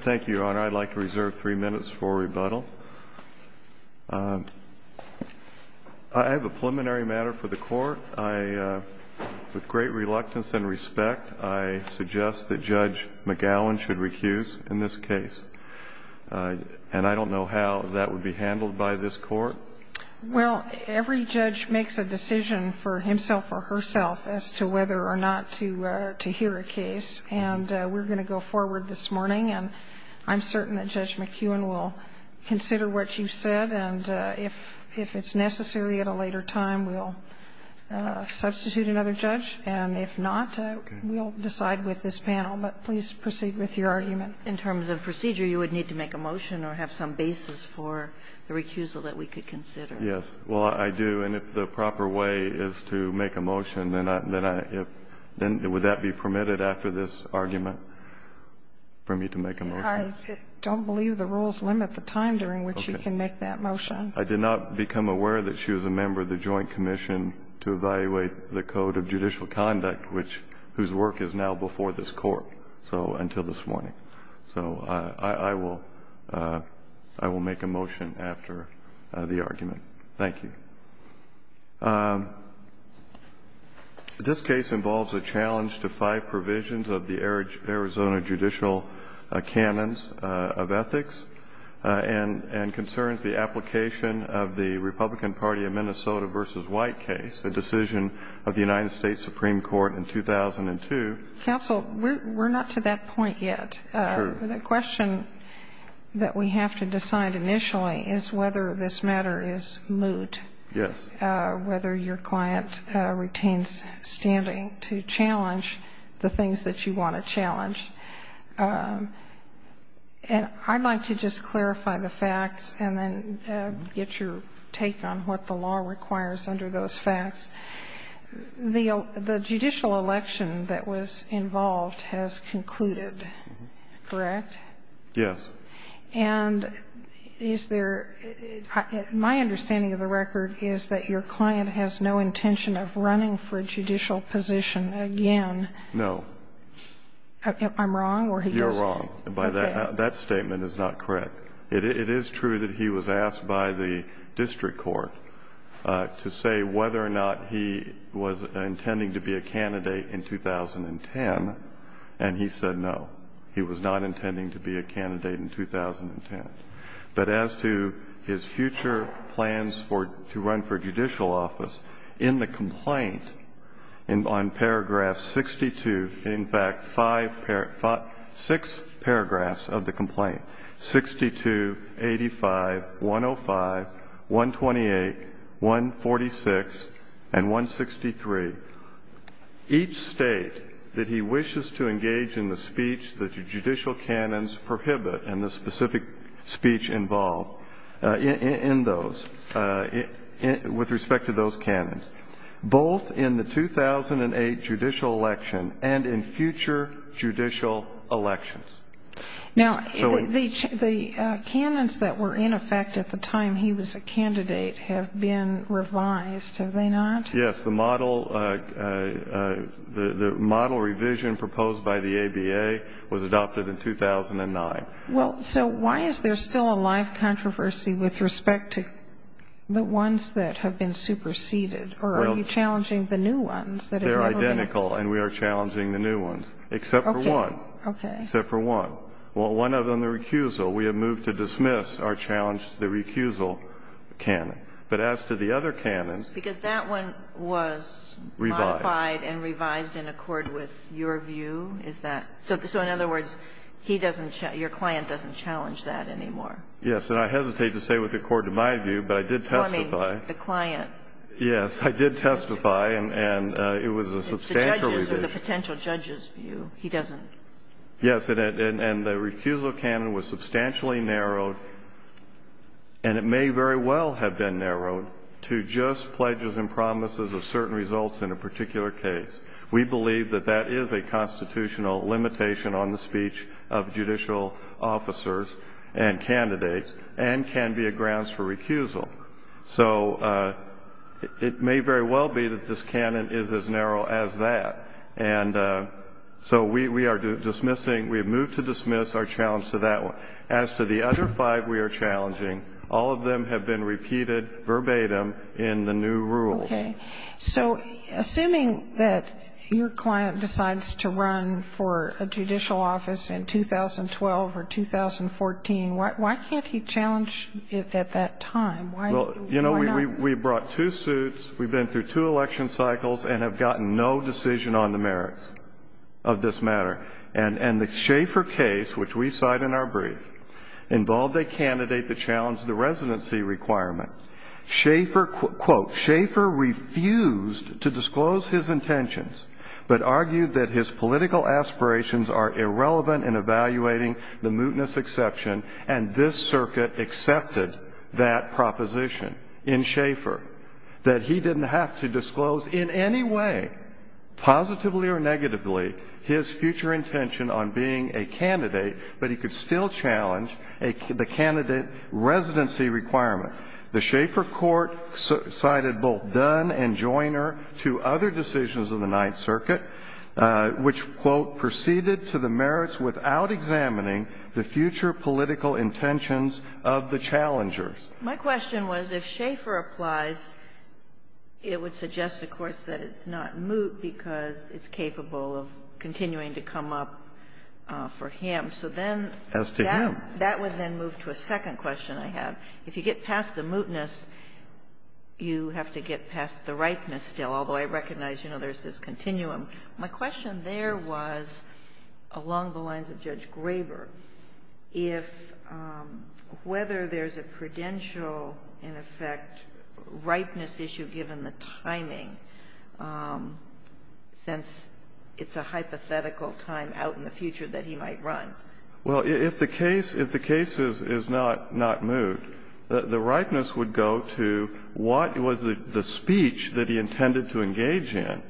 Thank you, Your Honor. I'd like to reserve three minutes for rebuttal. I have a preliminary matter for the Court. With great reluctance and respect, I suggest that Judge McGowan should recuse in this case. And I don't know how that would be handled by this Court. Well, every judge makes a decision for himself or herself as to whether or not to hear a case. And we're going to go forward this morning, and I'm certain that Judge McGowan will consider what you've said. And if it's necessary at a later time, we'll substitute another judge. And if not, we'll decide with this panel. But please proceed with your argument. In terms of procedure, you would need to make a motion or have some basis for the recusal that we could consider. Yes. Well, I do. And if the proper way is to make a motion, then would that be permitted after this argument for me to make a motion? I don't believe the rules limit the time during which you can make that motion. I did not become aware that she was a member of the Joint Commission to Evaluate the Code of Judicial Conduct, whose work is now before this Court, so until this morning. So I will make a motion after the argument. Thank you. This case involves a challenge to five provisions of the Arizona Judicial Canons of Ethics and concerns the application of the Republican Party of Minnesota v. White case, a decision of the United States Supreme Court in 2002. Counsel, we're not to that point yet. True. The question that we have to decide initially is whether this matter is moot. Yes. Whether your client retains standing to challenge the things that you want to challenge. And I'd like to just clarify the facts and then get your take on what the law requires under those facts. The judicial election that was involved has concluded, correct? Yes. And is there – my understanding of the record is that your client has no intention of running for judicial position again. No. I'm wrong, or he is? You're wrong. That statement is not correct. It is true that he was asked by the district court to say whether or not he was intending to be a candidate in 2010, and he said no, he was not intending to be a candidate in 2010. But as to his future plans for – to run for judicial office, in the complaint, on paragraph 62 – in fact, five – six paragraphs of the complaint, 62, 85, 105, 128, 146, and 163, each state that he wishes to engage in the speech that the judicial canons prohibit and the specific speech involved in those – with respect to those canons. Both in the 2008 judicial election and in future judicial elections. Now, the canons that were in effect at the time he was a candidate have been revised, have they not? Yes. The model revision proposed by the ABA was adopted in 2009. Well, so why is there still a live controversy with respect to the ones that have been superseded? Or are you challenging the new ones that have never been? They're identical, and we are challenging the new ones, except for one. Okay. Except for one. One of them, the recusal, we have moved to dismiss our challenge to the recusal canon. But as to the other canons – Because that one was modified and revised in accord with your view? Is that – so in other words, he doesn't – your client doesn't challenge that anymore? Yes. And I hesitate to say with accord to my view, but I did testify. I mean, the client. Yes. I did testify, and it was a substantial revision. It's the judge's or the potential judge's view. He doesn't. Yes. And the recusal canon was substantially narrowed, and it may very well have been narrowed, to just pledges and promises of certain results in a particular case. We believe that that is a constitutional limitation on the speech of judicial officers and candidates, and can be a grounds for recusal. So it may very well be that this canon is as narrow as that. And so we are dismissing – we have moved to dismiss our challenge to that one. As to the other five we are challenging, all of them have been repeated verbatim in the new rules. Okay. So assuming that your client decides to run for a judicial office in 2012 or 2014, why can't he challenge it at that time? Why not? Well, you know, we brought two suits. We've been through two election cycles and have gotten no decision on the merits of this matter. And the Schaeffer case, which we cite in our brief, involved a candidate that challenged the residency requirement. Schaeffer, quote, Schaeffer refused to disclose his intentions, but argued that his political aspirations are irrelevant in evaluating the mootness exception, and this circuit accepted that proposition in Schaeffer, that he didn't have to disclose in any way, positively or negatively, his future intention on being a candidate, but he could still challenge the candidate residency requirement. The Schaeffer court cited both Dunn and Joiner, two other decisions of the Ninth Circuit, which, quote, proceeded to the merits without examining the future political intentions of the challengers. My question was if Schaeffer applies, it would suggest, of course, that it's not moot because it's capable of continuing to come up for him. So then that would then move to a second question I have. If you get past the mootness, you have to get past the ripeness still, although I recognize, you know, there's this continuum. My question there was, along the lines of Judge Graber, if whether there's a prudential, in effect, ripeness issue given the timing, since it's a hypothetical time out in the future that he might run. Well, if the case is not moot, the ripeness would go to what was the speech that he intended to engage in,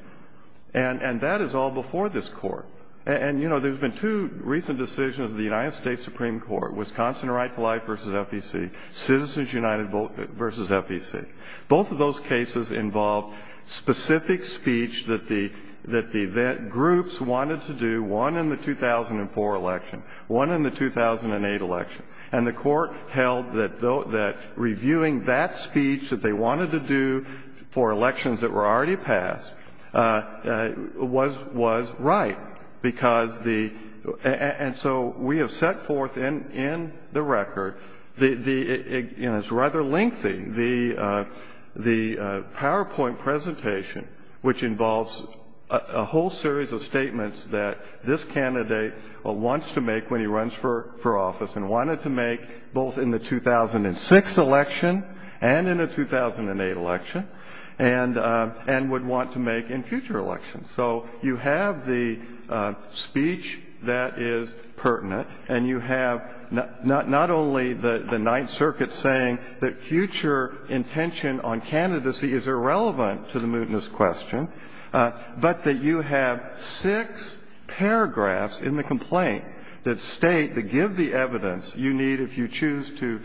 and that is all before this Court. And, you know, there's been two recent decisions of the United States Supreme Court, Wisconsin Right to Life v. FEC, Citizens United v. FEC. Both of those cases involved specific speech that the groups wanted to do, one in the 2004 election, one in the 2008 election. And the Court held that reviewing that speech that they wanted to do for elections that were already passed was right because the — and so we have set forth in the record the — it's rather lengthy, the PowerPoint presentation, which involves a whole series of statements that this candidate wants to make when he runs for office and wanted to make both in the 2006 election and in the 2008 election, and would want to make in future elections. So you have the speech that is pertinent, and you have not only the Ninth Circuit saying that future intention on candidacy is irrelevant to the mootness question, but that you have six paragraphs in the complaint that state, that give the evidence you need if you choose to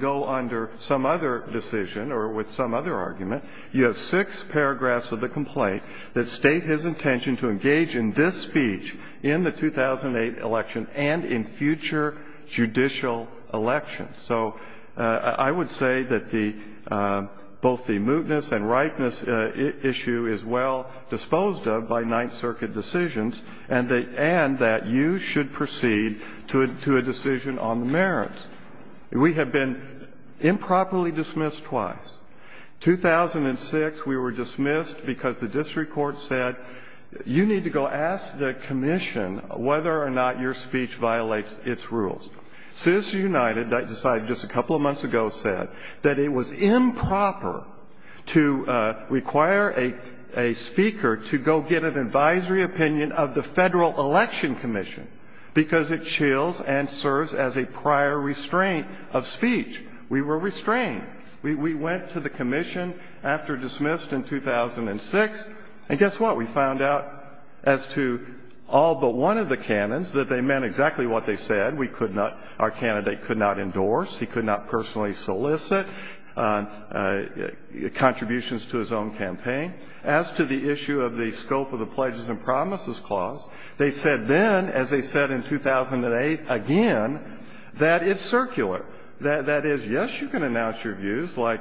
go under some other decision or with some other argument, you have six paragraphs of the complaint that state his intention to engage in this speech in the 2008 election and in future judicial elections. So I would say that the — both the mootness and rightness issue is well disposed of by Ninth Circuit decisions, and that you should proceed to a decision on the merits. We have been improperly dismissed twice. 2006, we were dismissed because the district court said, you need to go ask the commission whether or not your speech violates its rules. Citizens United decided just a couple of months ago said that it was improper to require a speaker to go get an advisory opinion of the Federal Election Commission because it chills and serves as a prior restraint of speech. We were restrained. We went to the commission after dismissed in 2006, and guess what? We found out as to all but one of the canons that they meant exactly what they said. We could not — our candidate could not endorse. He could not personally solicit contributions to his own campaign. As to the issue of the scope of the Pledges and Promises Clause, they said then, as they said in 2008 again, that it's circular. That is, yes, you can announce your views, like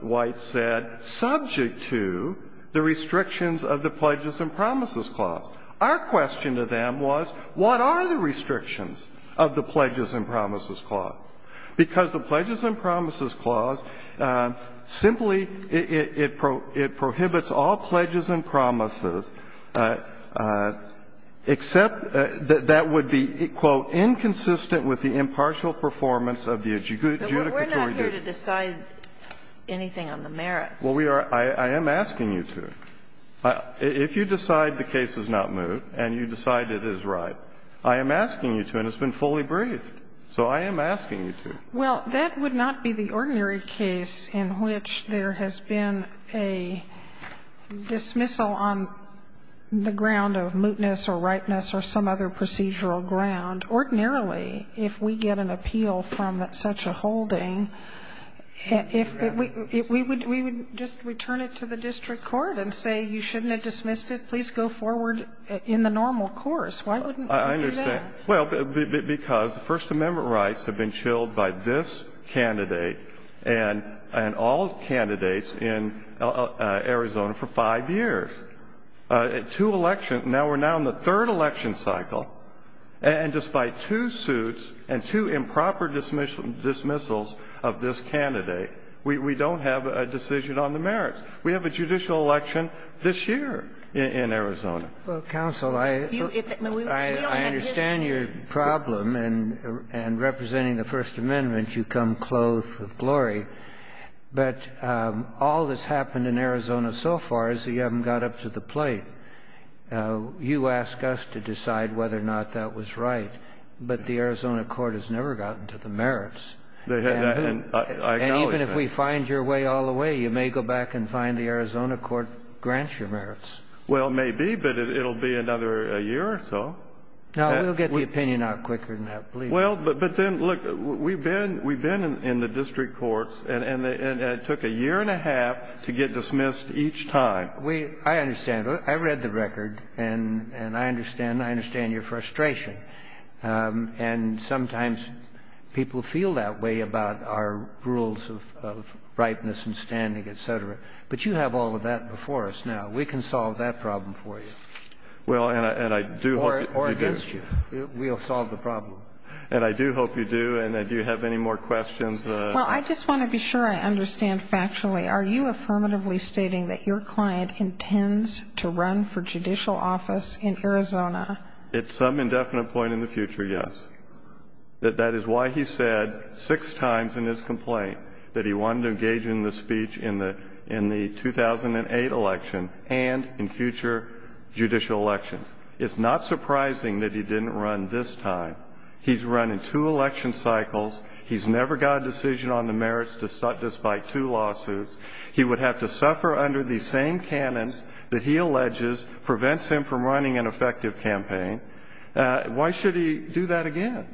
White said, subject to the restrictions of the Pledges and Promises Clause. Our question to them was, what are the restrictions of the Pledges and Promises Clause, because the Pledges and Promises Clause simply — it prohibits all pledges and promises except that that would be, quote, inconsistent with the impartial performance of the adjudicatory duty. We're not here to decide anything on the merits. Well, we are. I am asking you to. If you decide the case is not moot and you decide it is right, I am asking you to, and it's been fully briefed. So I am asking you to. Well, that would not be the ordinary case in which there has been a dismissal on the ground of mootness or ripeness or some other procedural ground. Ordinarily, if we get an appeal from such a holding, if we — we would just return it to the district court and say, you shouldn't have dismissed it. Please go forward in the normal course. Why wouldn't we do that? I understand. Well, because the First Amendment rights have been chilled by this candidate and all candidates in Arizona for five years. Two elections — now we're now in the third election cycle, and despite two suits and two improper dismissals of this candidate, we don't have a decision on the merits. We have a judicial election this year in Arizona. Well, counsel, I understand your problem, and representing the First Amendment, you come clothed with glory. But all that's happened in Arizona so far is that you haven't got up to the plate. You ask us to decide whether or not that was right, but the Arizona court has never gotten to the merits. And even if we find your way all the way, you may go back and find out that the Arizona court grants your merits. Well, maybe, but it will be another year or so. No, we'll get the opinion out quicker than that, please. Well, but then, look, we've been in the district courts, and it took a year and a half to get dismissed each time. I understand. I read the record, and I understand your frustration. And sometimes people feel that way about our rules of ripeness and standing, et cetera. But you have all of that before us now. We can solve that problem for you. Well, and I do hope you do. Or against you. We'll solve the problem. And I do hope you do. And do you have any more questions? Well, I just want to be sure I understand factually. Are you affirmatively stating that your client intends to run for judicial office in Arizona? At some indefinite point in the future, yes. That is why he said six times in his complaint that he wanted to engage in the speech in the 2008 election and in future judicial elections. It's not surprising that he didn't run this time. He's run in two election cycles. He's never got a decision on the merits despite two lawsuits. He would have to suffer under the same canons that he alleges prevents him from running an effective campaign. Why should he do that again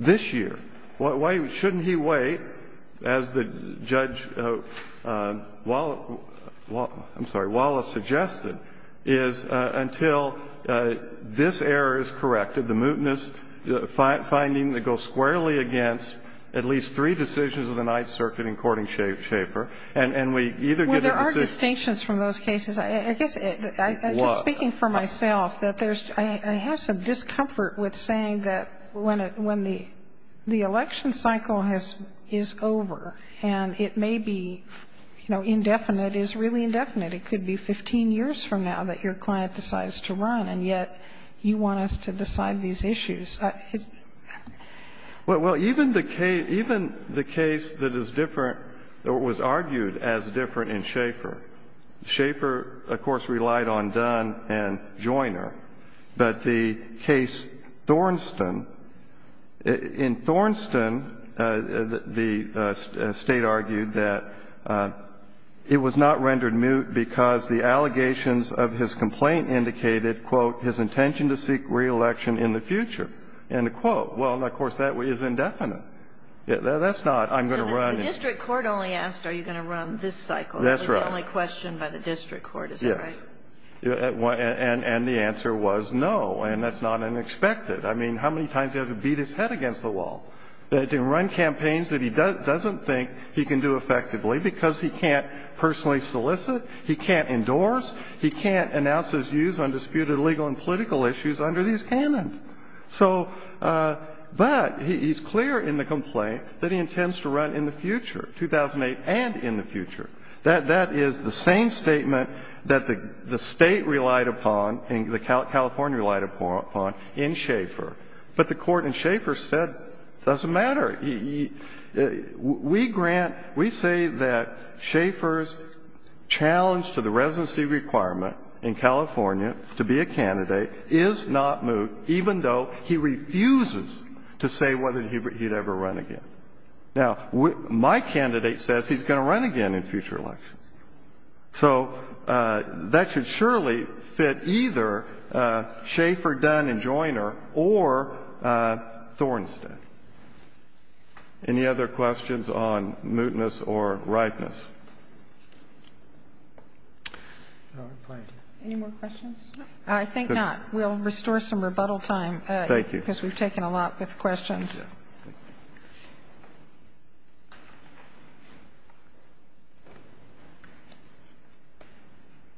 this year? Why shouldn't he wait, as Judge Wallace suggested, is until this error is corrected, the mootness finding that goes squarely against at least three decisions of the Ninth Circuit in courting Schaefer. And we either get a decision. Well, there are distinctions from those cases. I guess, speaking for myself, that there's – I have some discomfort with saying that when the election cycle is over and it may be, you know, indefinite, it is really indefinite. It could be 15 years from now that your client decides to run, and yet you want us to decide these issues. Well, even the case that is different or was argued as different in Schaefer, Schaefer, of course, relied on Dunn and Joyner. But the case Thornston, in Thornston, the State argued that it was not rendered moot because the allegations of his complaint indicated, quote, his intention to seek reelection in the future. End of quote. Well, of course, that is indefinite. That's not I'm going to run. So the district court only asked are you going to run this cycle. The only question by the district court, is that right? Yes. And the answer was no. And that's not unexpected. I mean, how many times do you have to beat his head against the wall to run campaigns that he doesn't think he can do effectively because he can't personally solicit, he can't endorse, he can't announce his views on disputed legal and political issues under these canons? So – but he's clear in the complaint that he intends to run in the future, 2008 and in the future. That is the same statement that the State relied upon and California relied upon in Schaefer. But the Court in Schaefer said it doesn't matter. We grant – we say that Schaefer's challenge to the residency requirement in California to be a candidate is not moot, even though he refuses to say whether he would ever run again. Now, my candidate says he's going to run again in future elections. So that should surely fit either Schaefer, Dunn and Joyner or Thornstead. Any other questions on mootness or rightness? Any more questions? I think not. We'll restore some rebuttal time. Thank you. Because we've taken a lot with questions. Yes. Thank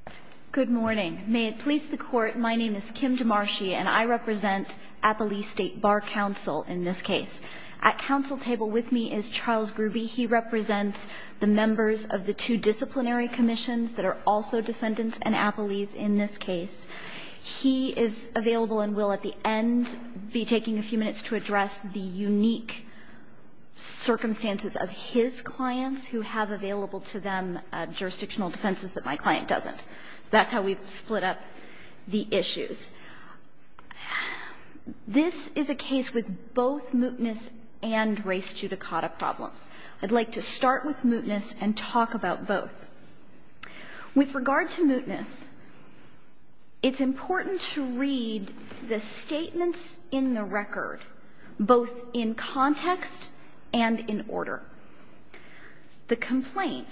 you. Good morning. May it please the Court, my name is Kim DeMarschi, and I represent Appalee State Bar Counsel in this case. At counsel table with me is Charles Gruby. He represents the members of the two disciplinary commissions that are also defendants in Appalee's in this case. He is available and will, at the end, be taking a few minutes to address the unique circumstances of his clients who have available to them jurisdictional defenses that my client doesn't. So that's how we've split up the issues. This is a case with both mootness and race judicata problems. I'd like to start with mootness and talk about both. With regard to mootness, it's important to read the statements in the record, both in context and in order. The complaint,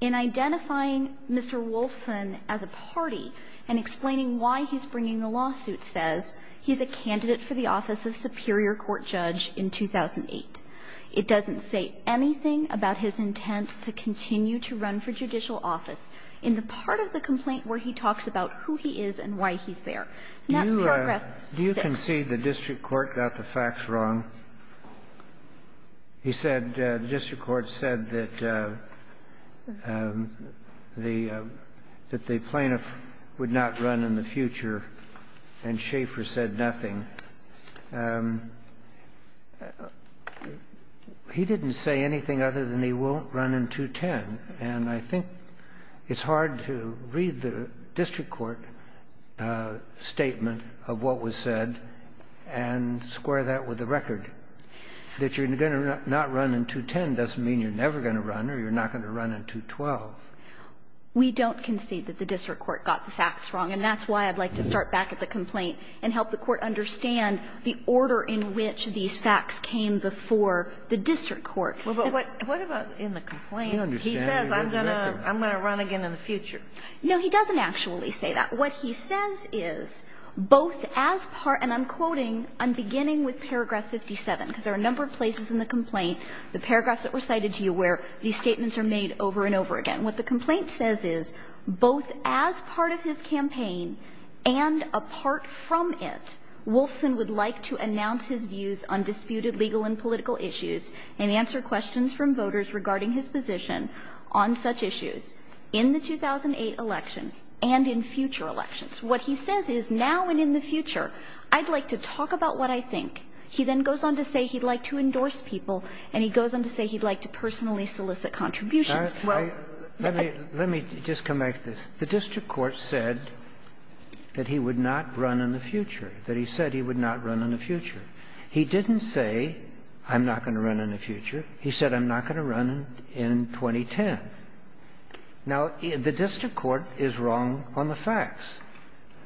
in identifying Mr. Wolfson as a party and explaining why he's bringing the lawsuit, says he's a candidate for the office of superior court judge in 2008. It doesn't say anything about his intent to continue to run for judicial office in the part of the complaint where he talks about who he is and why he's there. And that's paragraph 6. I concede the district court got the facts wrong. He said the district court said that the plaintiff would not run in the future, and Schaffer said nothing. He didn't say anything other than he won't run in 210, and I think it's hard to read the district court statement of what was said and square that with the record. That you're going to not run in 210 doesn't mean you're never going to run or you're not going to run in 212. We don't concede that the district court got the facts wrong, and that's why I'd like to start back at the complaint and help the court understand the order in which these facts came before the district court. But what about in the complaint? He says I'm going to run again in the future. No, he doesn't actually say that. What he says is both as part of, and I'm quoting, I'm beginning with paragraph 57, because there are a number of places in the complaint, the paragraphs that were cited to you where these statements are made over and over again. What the complaint says is both as part of his campaign and apart from it, Wolfson would like to announce his views on disputed legal and political issues and answer regarding his position on such issues in the 2008 election and in future elections. What he says is now and in the future, I'd like to talk about what I think. He then goes on to say he'd like to endorse people, and he goes on to say he'd like to personally solicit contributions. Well, let me just come back to this. The district court said that he would not run in the future, that he said he would not run in the future. He didn't say, I'm not going to run in the future. He said, I'm not going to run in 2010. Now, the district court is wrong on the facts.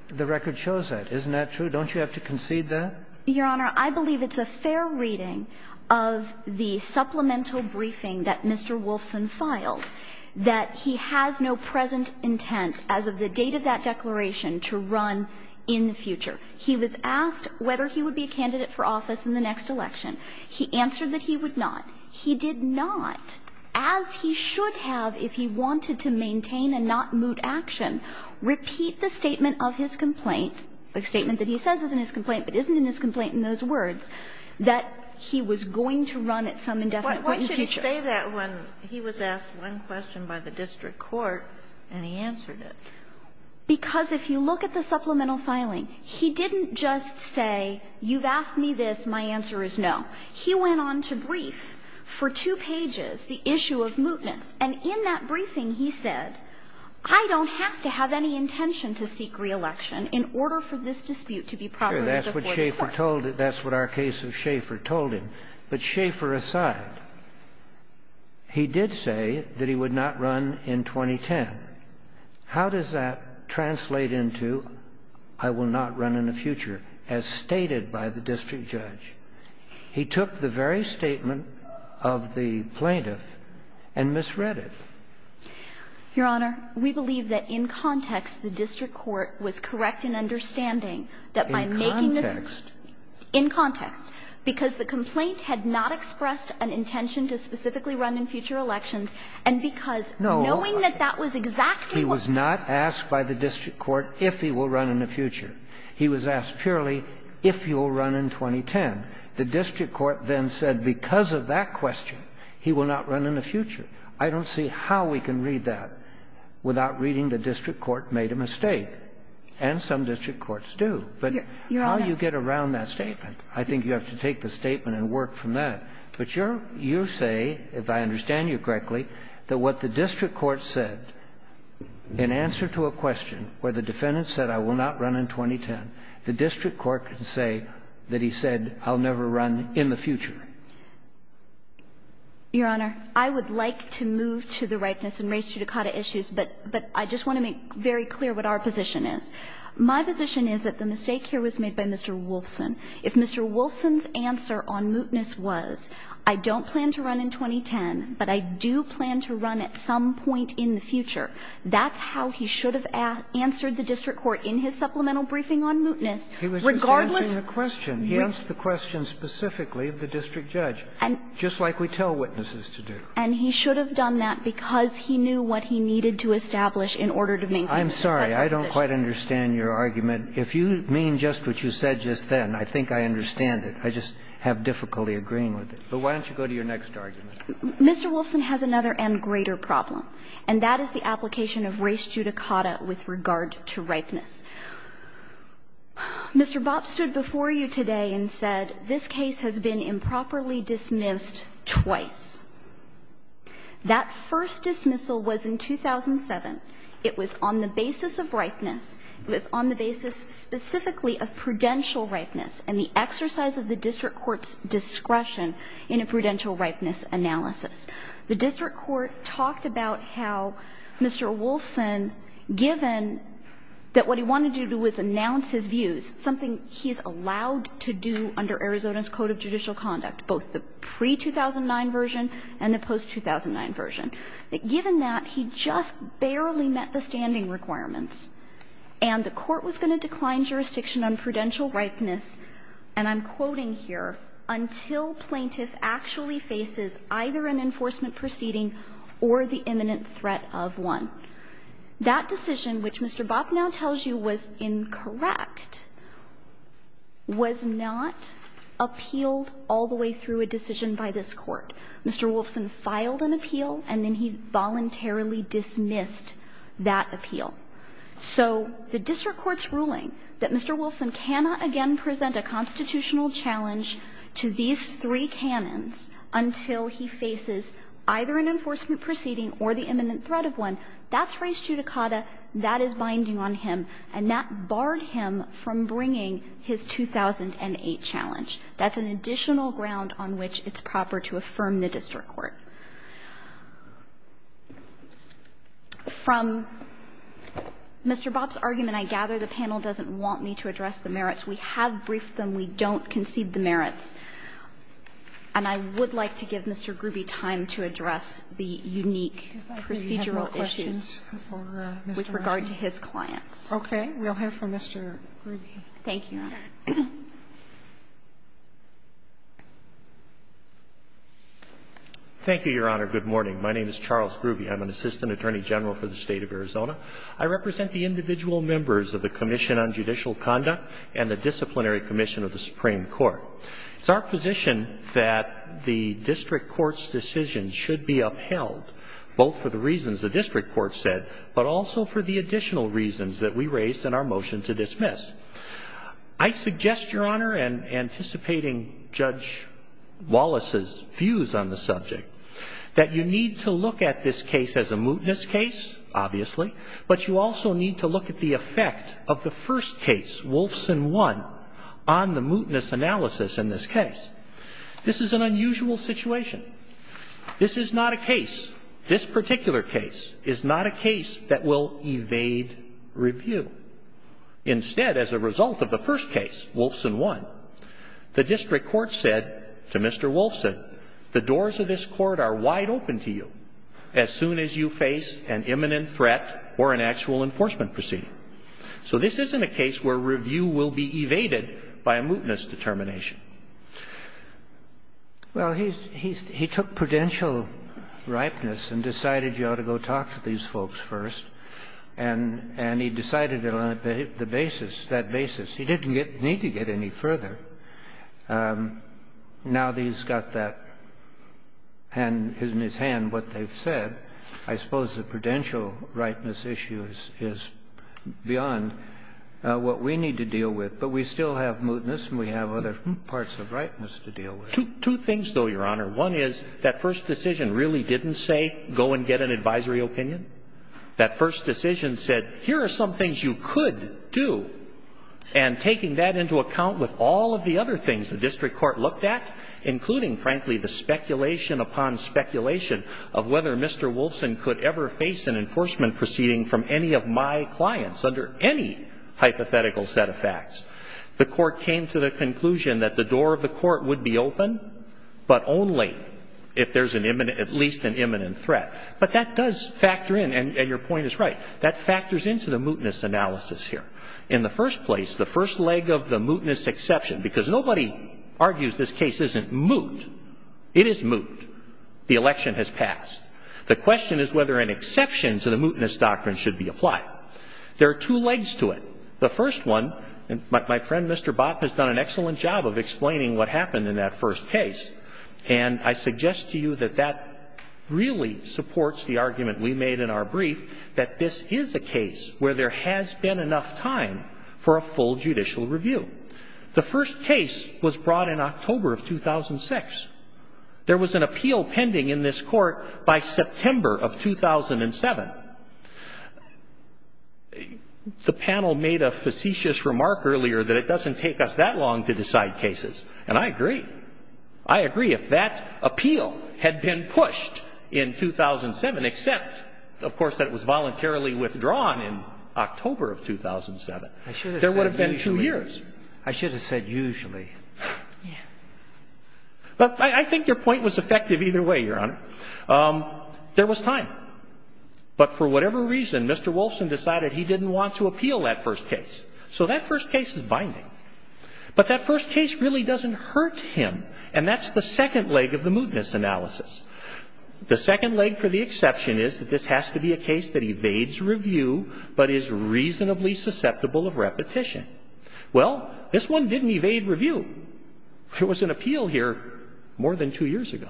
The record shows that. Isn't that true? Don't you have to concede that? Your Honor, I believe it's a fair reading of the supplemental briefing that Mr. Wolfson filed, that he has no present intent as of the date of that declaration to run in the future. He was asked whether he would be a candidate for office in the next election. He answered that he would not. He did not, as he should have if he wanted to maintain a not-moot action, repeat the statement of his complaint, the statement that he says is in his complaint, but isn't in his complaint in those words, that he was going to run at some indefinite point in the future. Why should he say that when he was asked one question by the district court and he answered it? Because if you look at the supplemental filing, he didn't just say, you've asked me this, my answer is no. He went on to brief for two pages the issue of mootness. And in that briefing, he said, I don't have to have any intention to seek reelection in order for this dispute to be properly supported. That's what Schaefer told him. That's what our case of Schaefer told him. But Schaefer aside, he did say that he would not run in 2010. How does that translate into, I will not run in the future, as stated by the district judge? He took the very statement of the plaintiff and misread it. Your Honor, we believe that in context, the district court was correct in understanding that by making this In context. In context. Because the complaint had not expressed an intention to specifically run in future elections, and because knowing that that was exactly what He was not asked by the district court if he will run in the future. He was asked purely if he will run in 2010. The district court then said because of that question, he will not run in the future. I don't see how we can read that without reading the district court made a mistake. And some district courts do. But how do you get around that statement? I think you have to take the statement and work from that. But you're you say, if I understand you correctly, that what the district court said in answer to a question where the defendant said I will not run in 2010, the district court can say that he said I'll never run in the future. Your Honor, I would like to move to the rightness in race judicata issues. But I just want to make very clear what our position is. My position is that the mistake here was made by Mr. Wolfson. If Mr. Wolfson's answer on mootness was I don't plan to run in 2010, but I do plan to run at some point in the future, that's how he should have answered the district court in his supplemental briefing on mootness regardless of the question. He answered the question specifically of the district judge, just like we tell witnesses to do. And he should have done that because he knew what he needed to establish in order to make such a decision. I'm sorry. I don't quite understand your argument. If you mean just what you said just then, I think I understand it. I just have difficulty agreeing with it. But why don't you go to your next argument? Mr. Wolfson has another and greater problem, and that is the application of race judicata with regard to ripeness. Mr. Bopp stood before you today and said this case has been improperly dismissed twice. That first dismissal was in 2007. It was on the basis of ripeness. It was on the basis specifically of prudential ripeness and the exercise of the district court's discretion in a prudential ripeness analysis. The district court talked about how Mr. Wolfson, given that what he wanted to do was announce his views, something he's allowed to do under Arizona's Code of Judicial Conduct, both the pre-2009 version and the post-2009 version. But given that, he just barely met the standing requirements. And the Court was going to decline jurisdiction on prudential ripeness, and I'm quoting here, until plaintiff actually faces either an enforcement proceeding or the imminent threat of one. That decision, which Mr. Bopp now tells you was incorrect, was not appealed all the way through a decision by this Court. Mr. Wolfson filed an appeal, and then he voluntarily dismissed that appeal. So the district court's ruling that Mr. Wolfson cannot again present a constitutional challenge to these three canons until he faces either an enforcement proceeding or the imminent threat of one, that's res judicata, that is binding on him, and that barred him from bringing his 2008 challenge. That's an additional ground on which it's proper to affirm the district court. From Mr. Bopp's argument, I gather the panel doesn't want me to address the merits. We have briefed them. We don't concede the merits. And I would like to give Mr. Gruby time to address the unique procedural issues with regard to his clients. Sotomayor, we'll hear from Mr. Gruby. Thank you, Your Honor. Thank you, Your Honor. Good morning. My name is Charles Gruby. I'm an Assistant Attorney General for the State of Arizona. I represent the individual members of the Commission on Judicial Conduct and the Disciplinary Commission of the Supreme Court. It's our position that the district court's decision should be upheld, both for the reasons the district court said, but also for the additional reasons that we raised in our motion to dismiss. I suggest, Your Honor, and anticipating Judge Wallace's views on the subject, that you need to look at this case as a mootness case, obviously, but you also need to look at the effect of the first case, Wolfson 1, on the mootness analysis in this case. This is an unusual situation. This is not a case, this particular case, is not a case that will evade review. Instead, as a result of the first case, Wolfson 1, the district court said to Mr. Wolfson, the doors of this court are wide open to you as soon as you face an imminent threat or an actual enforcement proceeding. So this isn't a case where review will be evaded by a mootness determination. Well, he took prudential ripeness and decided you ought to go talk to these folks first, and he decided on the basis, that basis. He didn't need to get any further. Now that he's got that in his hand, what they've said, I suppose the prudential ripeness issue is beyond what we need to deal with, but we still have mootness and we have other parts of ripeness to deal with. Two things, though, Your Honor. One is that first decision really didn't say go and get an advisory opinion. That first decision said here are some things you could do, and taking that into account with all of the other things the district court looked at, including, frankly, the speculation upon speculation of whether Mr. Wolfson could ever face an enforcement proceeding from any of my clients under any hypothetical set of facts, the court came to the conclusion that the door of the court would be open, but only if there's at least an imminent threat. But that does factor in, and your point is right, that factors into the mootness analysis here. In the first place, the first leg of the mootness exception, because nobody argues this case isn't moot. It is moot. The election has passed. The question is whether an exception to the mootness doctrine should be applied. There are two legs to it. The first one, and my friend Mr. Bott has done an excellent job of explaining what happened in that first case, and I suggest to you that that really supports the argument we made in our brief, that this is a case where there has been enough time for a full judicial review. The first case was brought in October of 2006. There was an appeal pending in this Court by September of 2007. The panel made a facetious remark earlier that it doesn't take us that long to decide on cases, and I agree. I agree. If that appeal had been pushed in 2007, except, of course, that it was voluntarily withdrawn in October of 2007, there would have been two years. I should have said usually. Yeah. But I think your point was effective either way, Your Honor. There was time. But for whatever reason, Mr. Wolfson decided he didn't want to appeal that first case. So that first case is binding. But that first case really doesn't hurt him, and that's the second leg of the mootness analysis. The second leg for the exception is that this has to be a case that evades review but is reasonably susceptible of repetition. Well, this one didn't evade review. There was an appeal here more than two years ago.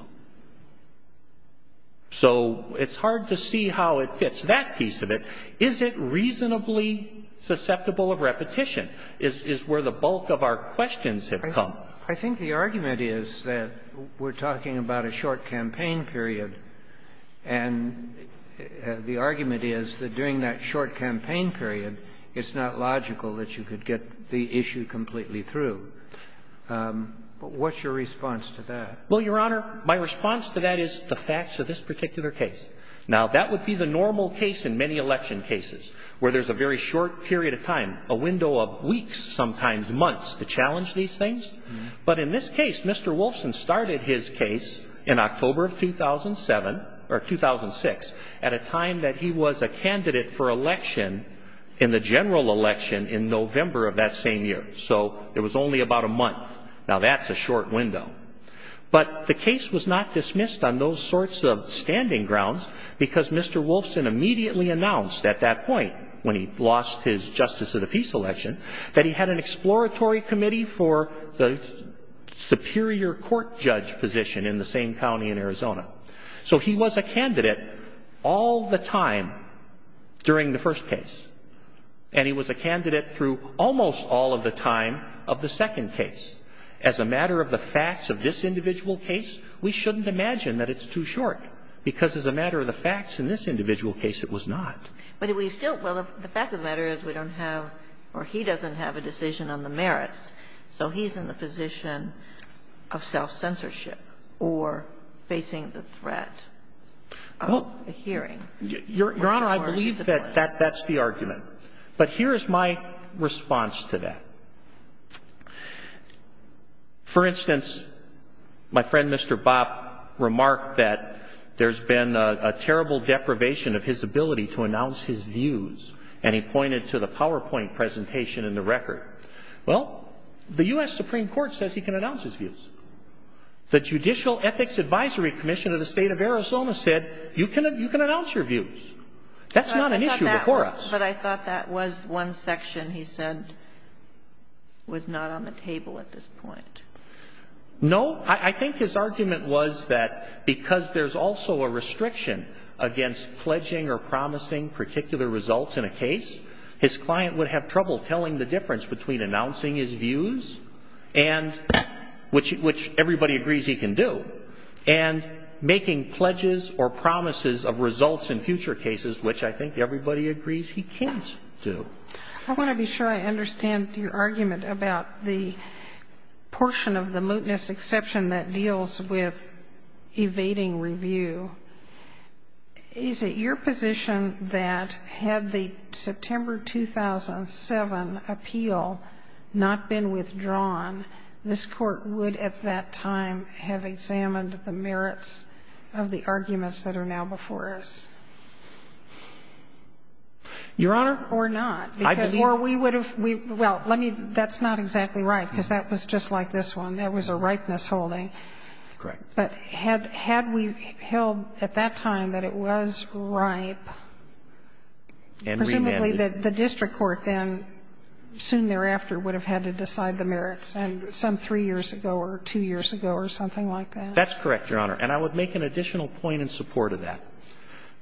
So it's hard to see how it fits that piece of it. Is it reasonably susceptible of repetition? Is where the bulk of our questions have come. I think the argument is that we're talking about a short campaign period, and the argument is that during that short campaign period, it's not logical that you could get the issue completely through. What's your response to that? Well, Your Honor, my response to that is the facts of this particular case. Now, that would be the normal case in many election cases, where there's a very short period of time, a window of weeks, sometimes months, to challenge these things. But in this case, Mr. Wolfson started his case in October of 2007, or 2006, at a time that he was a candidate for election in the general election in November of that same year. So it was only about a month. Now, that's a short window. But the case was not dismissed on those sorts of standing grounds because Mr. Wolfson immediately announced at that point, when he lost his Justice of the Peace election, that he had an exploratory committee for the superior court judge position in the same county in Arizona. So he was a candidate all the time during the first case. And he was a candidate through almost all of the time of the second case. As a matter of the facts of this individual case, we shouldn't imagine that it's too soon to say that in this individual case it was not. But did we still – well, the fact of the matter is we don't have – or he doesn't have a decision on the merits. So he's in the position of self-censorship or facing the threat of a hearing. Your Honor, I believe that that's the argument. But here is my response to that. For instance, my friend Mr. Bopp remarked that there's been a terrible deprivation of his ability to announce his views. And he pointed to the PowerPoint presentation in the record. Well, the U.S. Supreme Court says he can announce his views. The Judicial Ethics Advisory Commission of the State of Arizona said you can announce your views. That's not an issue before us. But I thought that was one section he said was not on the table at this point. No. I think his argument was that because there's also a restriction against pledging or promising particular results in a case, his client would have trouble telling the difference between announcing his views, which everybody agrees he can do, and making pledges or promises of results in future cases, which I think everybody agrees he can't do. I want to be sure I understand your argument about the portion of the mootness exception that deals with evading review. Is it your position that had the September 2007 appeal not been withdrawn, this would not have been an issue before us? Your Honor? Or not. I believe that. Or we would have we – well, let me – that's not exactly right, because that was just like this one. That was a ripeness holding. Correct. But had we held at that time that it was ripe, presumably the district court then soon thereafter would have had to decide the merits, some three years ago or two years ago or something like that. That's correct, Your Honor. And I would make an additional point in support of that.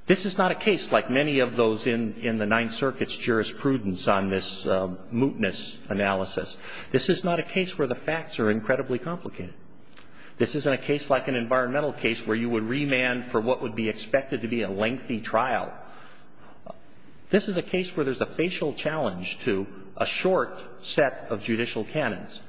This is not a case like many of those in the Ninth Circuit's jurisprudence on this mootness analysis. This is not a case where the facts are incredibly complicated. This isn't a case like an environmental case where you would remand for what would be expected to be a lengthy trial. This is a case where there's a facial challenge to a short set of judicial canons.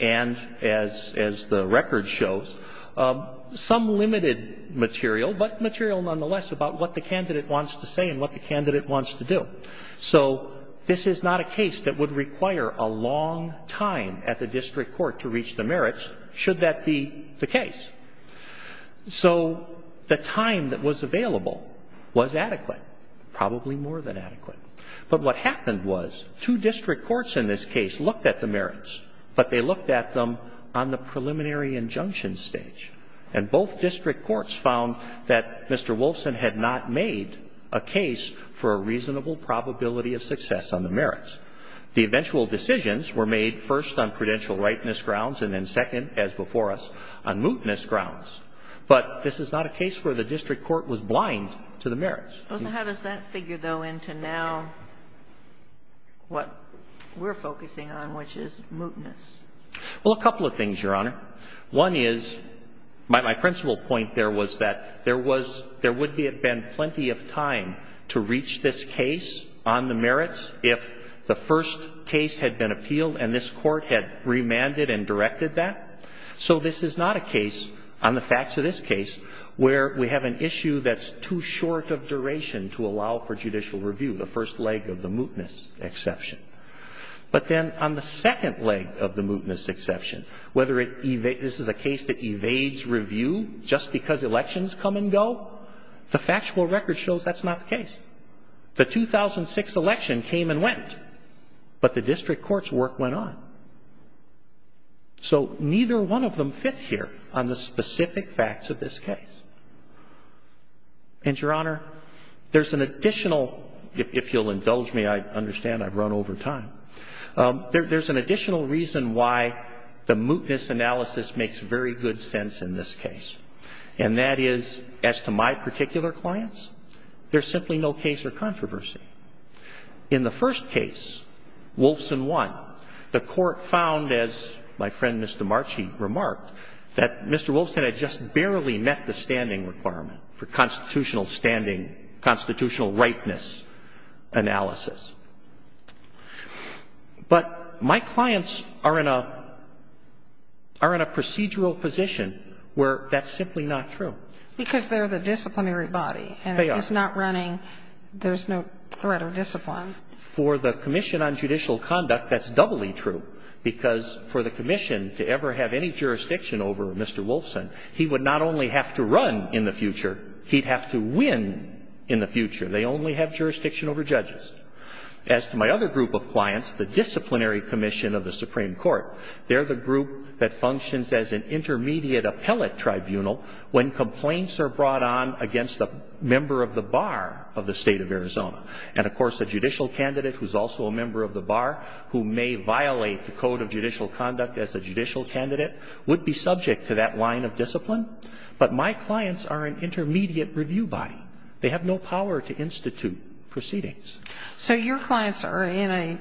And as the record shows, some limited material, but material nonetheless about what the candidate wants to say and what the candidate wants to do. So this is not a case that would require a long time at the district court to reach the merits, should that be the case. So the time that was available was adequate, probably more than adequate. But what happened was two district courts in this case looked at the merits, but they looked at them on the preliminary injunction stage. And both district courts found that Mr. Wolfson had not made a case for a reasonable probability of success on the merits. The eventual decisions were made first on prudential rightness grounds and then second, as before us, on mootness grounds. But this is not a case where the district court was blind to the merits. So how does that figure, though, into now what we're focusing on, which is mootness? Well, a couple of things, Your Honor. One is, my principal point there was that there was, there would have been plenty of time to reach this case on the merits if the first case had been appealed and this Court had remanded and directed that. So this is not a case, on the facts of this case, where we have an issue that's too short of duration to allow for judicial review, the first leg of the mootness exception. But then on the second leg of the mootness exception, whether it evades, this is a case that evades review just because elections come and go, the factual record shows that's not the case. The 2006 election came and went, but the district court's work went on. So neither one of them fit here on the specific facts of this case. And, Your Honor, there's an additional, if you'll indulge me, I understand I've run over time, there's an additional reason why the mootness analysis makes very good sense in this case, and that is, as to my particular clients, there's simply no case or controversy. In the first case, Wolfson 1, the Court found, as my friend Mr. Marchi remarked, that Mr. Wolfson had just barely met the standing requirement for constitutional standing, constitutional rightness analysis. But my clients are in a procedural position where that's simply not true. Because they're the disciplinary body. They are. And if it's not running, there's no threat of discipline. For the Commission on Judicial Conduct, that's doubly true, because for the commission to ever have any jurisdiction over Mr. Wolfson, he would not only have to run in the future, he'd have to win in the future. They only have jurisdiction over judges. As to my other group of clients, the disciplinary commission of the Supreme Court, they're the group that functions as an intermediate appellate tribunal when complaints are brought on against a member of the bar of the State of Arizona. And, of course, a judicial candidate who's also a member of the bar who may violate the jurisdiction of a judicial candidate would be subject to that line of discipline. But my clients are an intermediate review body. They have no power to institute proceedings. So your clients are in a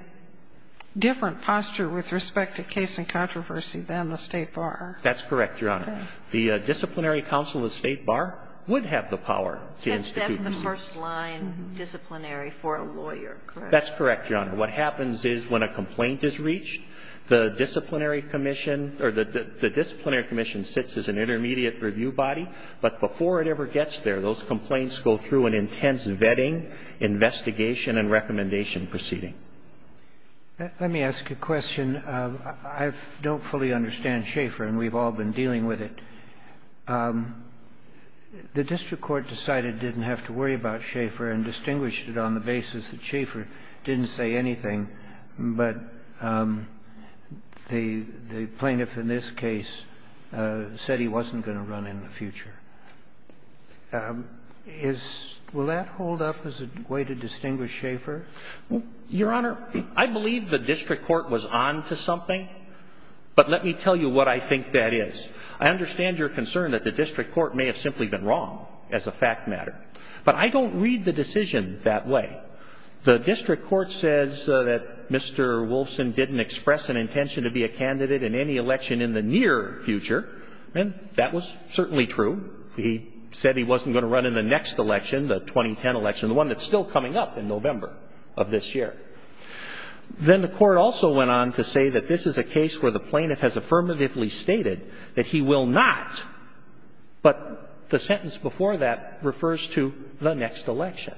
different posture with respect to case and controversy than the State Bar. That's correct, Your Honor. The disciplinary counsel of the State Bar would have the power to institute proceedings. That's the first line disciplinary for a lawyer, correct? That's correct, Your Honor. What happens is when a complaint is reached, the disciplinary commission or the disciplinary commission sits as an intermediate review body. But before it ever gets there, those complaints go through an intense vetting, investigation, and recommendation proceeding. Let me ask a question. I don't fully understand Schaeffer, and we've all been dealing with it. The district court decided it didn't have to worry about Schaeffer and distinguished it on the basis that Schaeffer didn't say anything. But the plaintiff in this case said he wasn't going to run in the future. Is — will that hold up as a way to distinguish Schaeffer? Your Honor, I believe the district court was on to something, but let me tell you what I think that is. I understand your concern that the district court may have simply been wrong as a fact matter. But I don't read the decision that way. The district court says that Mr. Wolfson didn't express an intention to be a candidate in any election in the near future, and that was certainly true. He said he wasn't going to run in the next election, the 2010 election, the one that's still coming up in November of this year. Then the court also went on to say that this is a case where the plaintiff has affirmatively stated that he will not, but the sentence before that refers to the next election.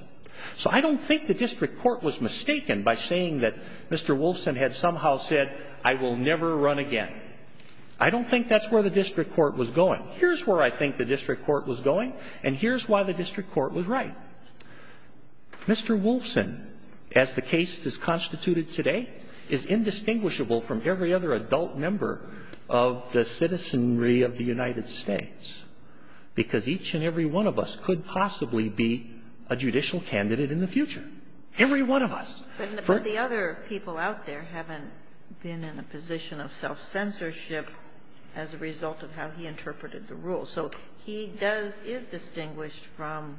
So I don't think the district court was mistaken by saying that Mr. Wolfson had somehow said, I will never run again. I don't think that's where the district court was going. Here's where I think the district court was going, and here's why the district court was right. Mr. Wolfson, as the case is constituted today, is indistinguishable from every other adult member of the citizenry of the United States, because each and every one of us could possibly be a judicial candidate in the future. Every one of us. But the other people out there haven't been in a position of self-censorship as a result of how he interpreted the rules. So he does – is distinguished from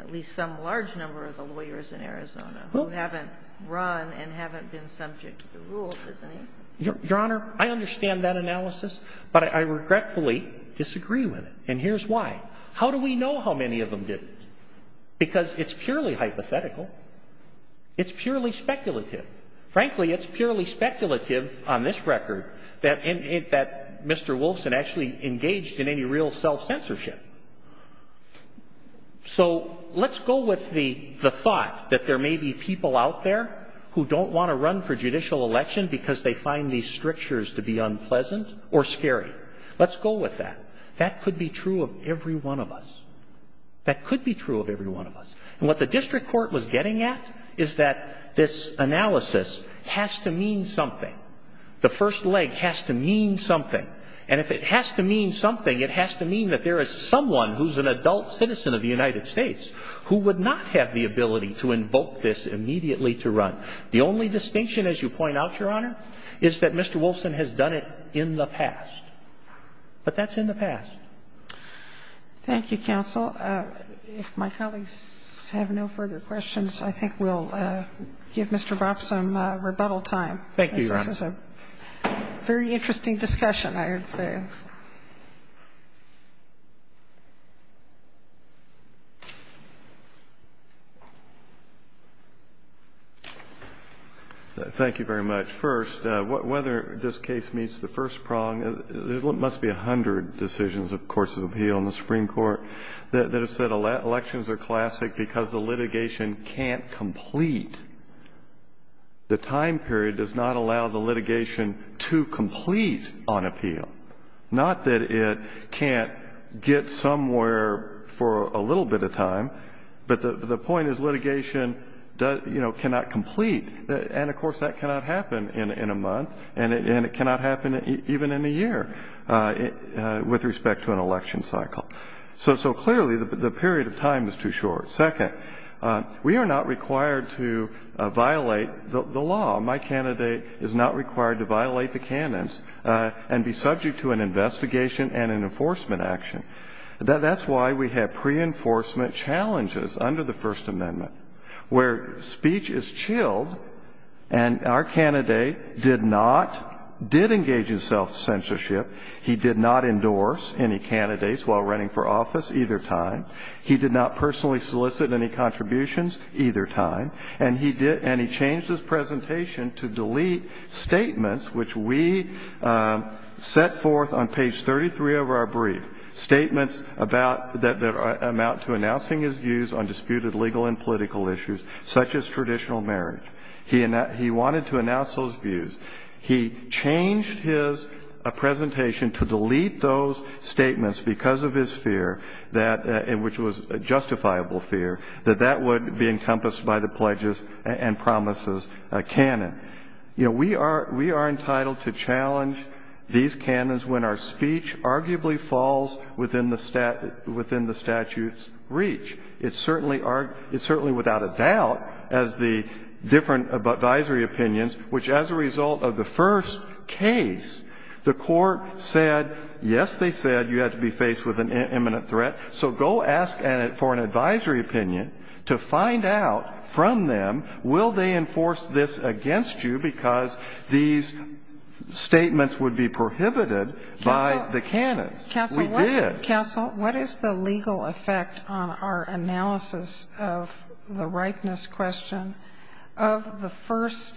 at least some large number of the lawyers in Arizona who haven't run and haven't been subject to the rules, isn't he? Your Honor, I understand that analysis, but I regretfully disagree with it, and here's why. How do we know how many of them didn't? Because it's purely hypothetical. It's purely speculative. Frankly, it's purely speculative on this record that Mr. Wolfson actually engaged in any real self-censorship. So let's go with the thought that there may be people out there who don't want to find these strictures to be unpleasant or scary. Let's go with that. That could be true of every one of us. That could be true of every one of us. And what the district court was getting at is that this analysis has to mean something. The first leg has to mean something. And if it has to mean something, it has to mean that there is someone who's an adult citizen of the United States who would not have the ability to invoke this immediately to run. The only distinction, as you point out, Your Honor, is that Mr. Wolfson has done it in the past. But that's in the past. Thank you, counsel. If my colleagues have no further questions, I think we'll give Mr. Ropp some rebuttal time. Thank you, Your Honor. This is a very interesting discussion, I would say. Thank you very much. First, whether this case meets the first prong, there must be a hundred decisions, of course, of appeal in the Supreme Court that have said elections are classic because the litigation can't complete. The time period does not allow the litigation to complete on appeal. Not that it can't get somewhere for a little bit of time, but the point is litigation, you know, cannot complete. And, of course, that cannot happen in a month, and it cannot happen even in a year with respect to an election cycle. So, clearly, the period of time is too short. Second, we are not required to violate the law. My candidate is not required to violate the canons and be subject to an investigation and an enforcement action. That's why we have pre-enforcement challenges under the First Amendment where speech is chilled and our candidate did not, did engage in self-censorship. He did not endorse any candidates while running for office either time. He did not personally solicit any contributions either time, and he did, and he changed his presentation to delete statements which we set forth on page 33 of our brief, statements about, that amount to announcing his views on disputed legal and political issues such as traditional marriage. He wanted to announce those views. He changed his presentation to delete those statements because of his fear that it would be, which was justifiable fear, that that would be encompassed by the pledges and promises canon. You know, we are entitled to challenge these canons when our speech arguably falls within the statute's reach. It's certainly without a doubt as the different advisory opinions, which as a result of the first case, the Court said, yes, they said you had to be faced with an imminent threat, so go ask for an advisory opinion to find out from them will they enforce this against you because these statements would be prohibited by the canon. We did. Counsel, what is the legal effect on our analysis of the ripeness question of the first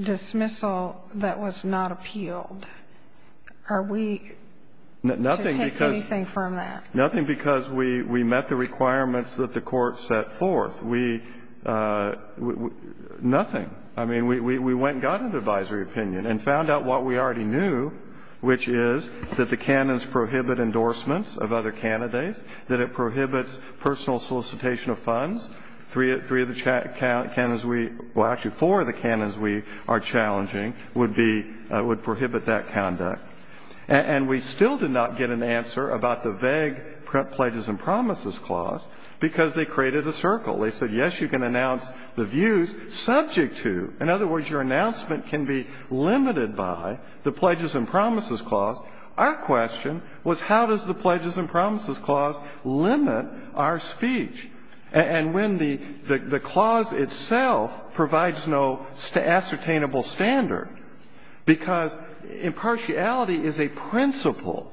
dismissal that was not appealed? Are we to take anything from that? Nothing because we met the requirements that the Court set forth. We, nothing. I mean, we went and got an advisory opinion and found out what we already knew, which is that the canons prohibit endorsements of other candidates, that it prohibits personal solicitation of funds. Three of the canons we, well, actually four of the canons we are challenging would be, would prohibit that conduct. And we still did not get an answer about the vague Pledges and Promises Clause because they created a circle. They said, yes, you can announce the views subject to. In other words, your announcement can be limited by the Pledges and Promises Clause. Our question was how does the Pledges and Promises Clause limit our speech? And when the clause itself provides no ascertainable standard because impartiality is a principle,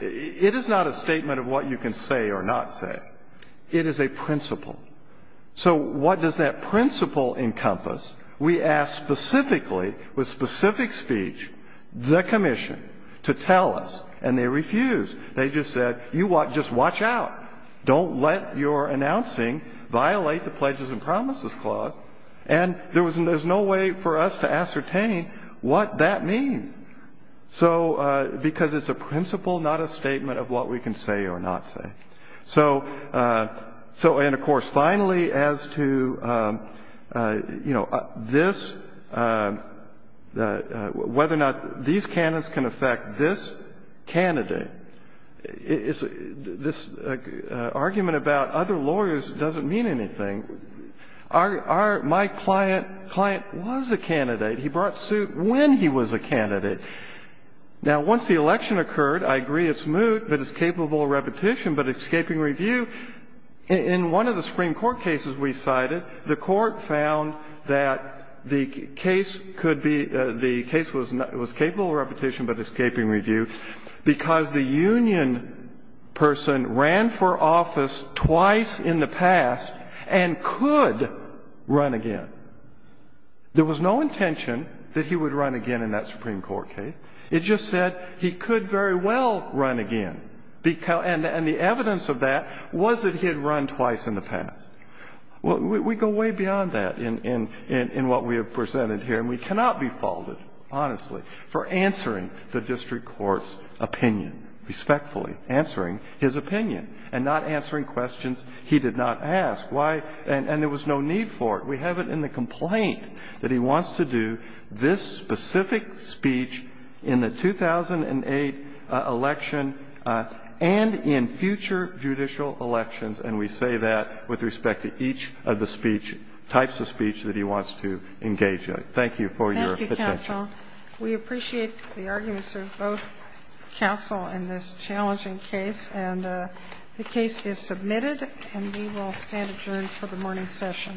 it is not a statement of what you can say or not say. It is a principle. So what does that principle encompass? We asked specifically, with specific speech, the commission to tell us, and they refused. They just said, you just watch out. Don't let your announcing violate the Pledges and Promises Clause. And there was no way for us to ascertain what that means. So because it's a principle, not a statement of what we can say or not say. So, and of course, finally, as to, you know, this, whether or not these canons can affect this candidate, this argument about other lawyers doesn't mean anything. Our, my client, client was a candidate. He brought suit when he was a candidate. Now, once the election occurred, I agree it's moot, but it's capable of repetition, but escaping review, in one of the Supreme Court cases we cited, the Court found that the case could be, the case was capable of repetition, but escaping review because the union person ran for office twice in the past and could run again. There was no intention that he would run again in that Supreme Court case. It just said he could very well run again, and the evidence of that was that he had run twice in the past. We go way beyond that in what we have presented here, and we cannot be faulted, honestly, for answering the district court's opinion, respectfully answering his opinion, and not answering questions he did not ask. And there was no need for it. We have it in the complaint that he wants to do this specific speech in the 2008 election and in future judicial elections, and we say that with respect to each of the speech, types of speech that he wants to engage in. Thank you for your attention. Thank you, counsel. We appreciate the arguments of both counsel in this challenging case, and the case is submitted, and we will stand adjourned for the morning session.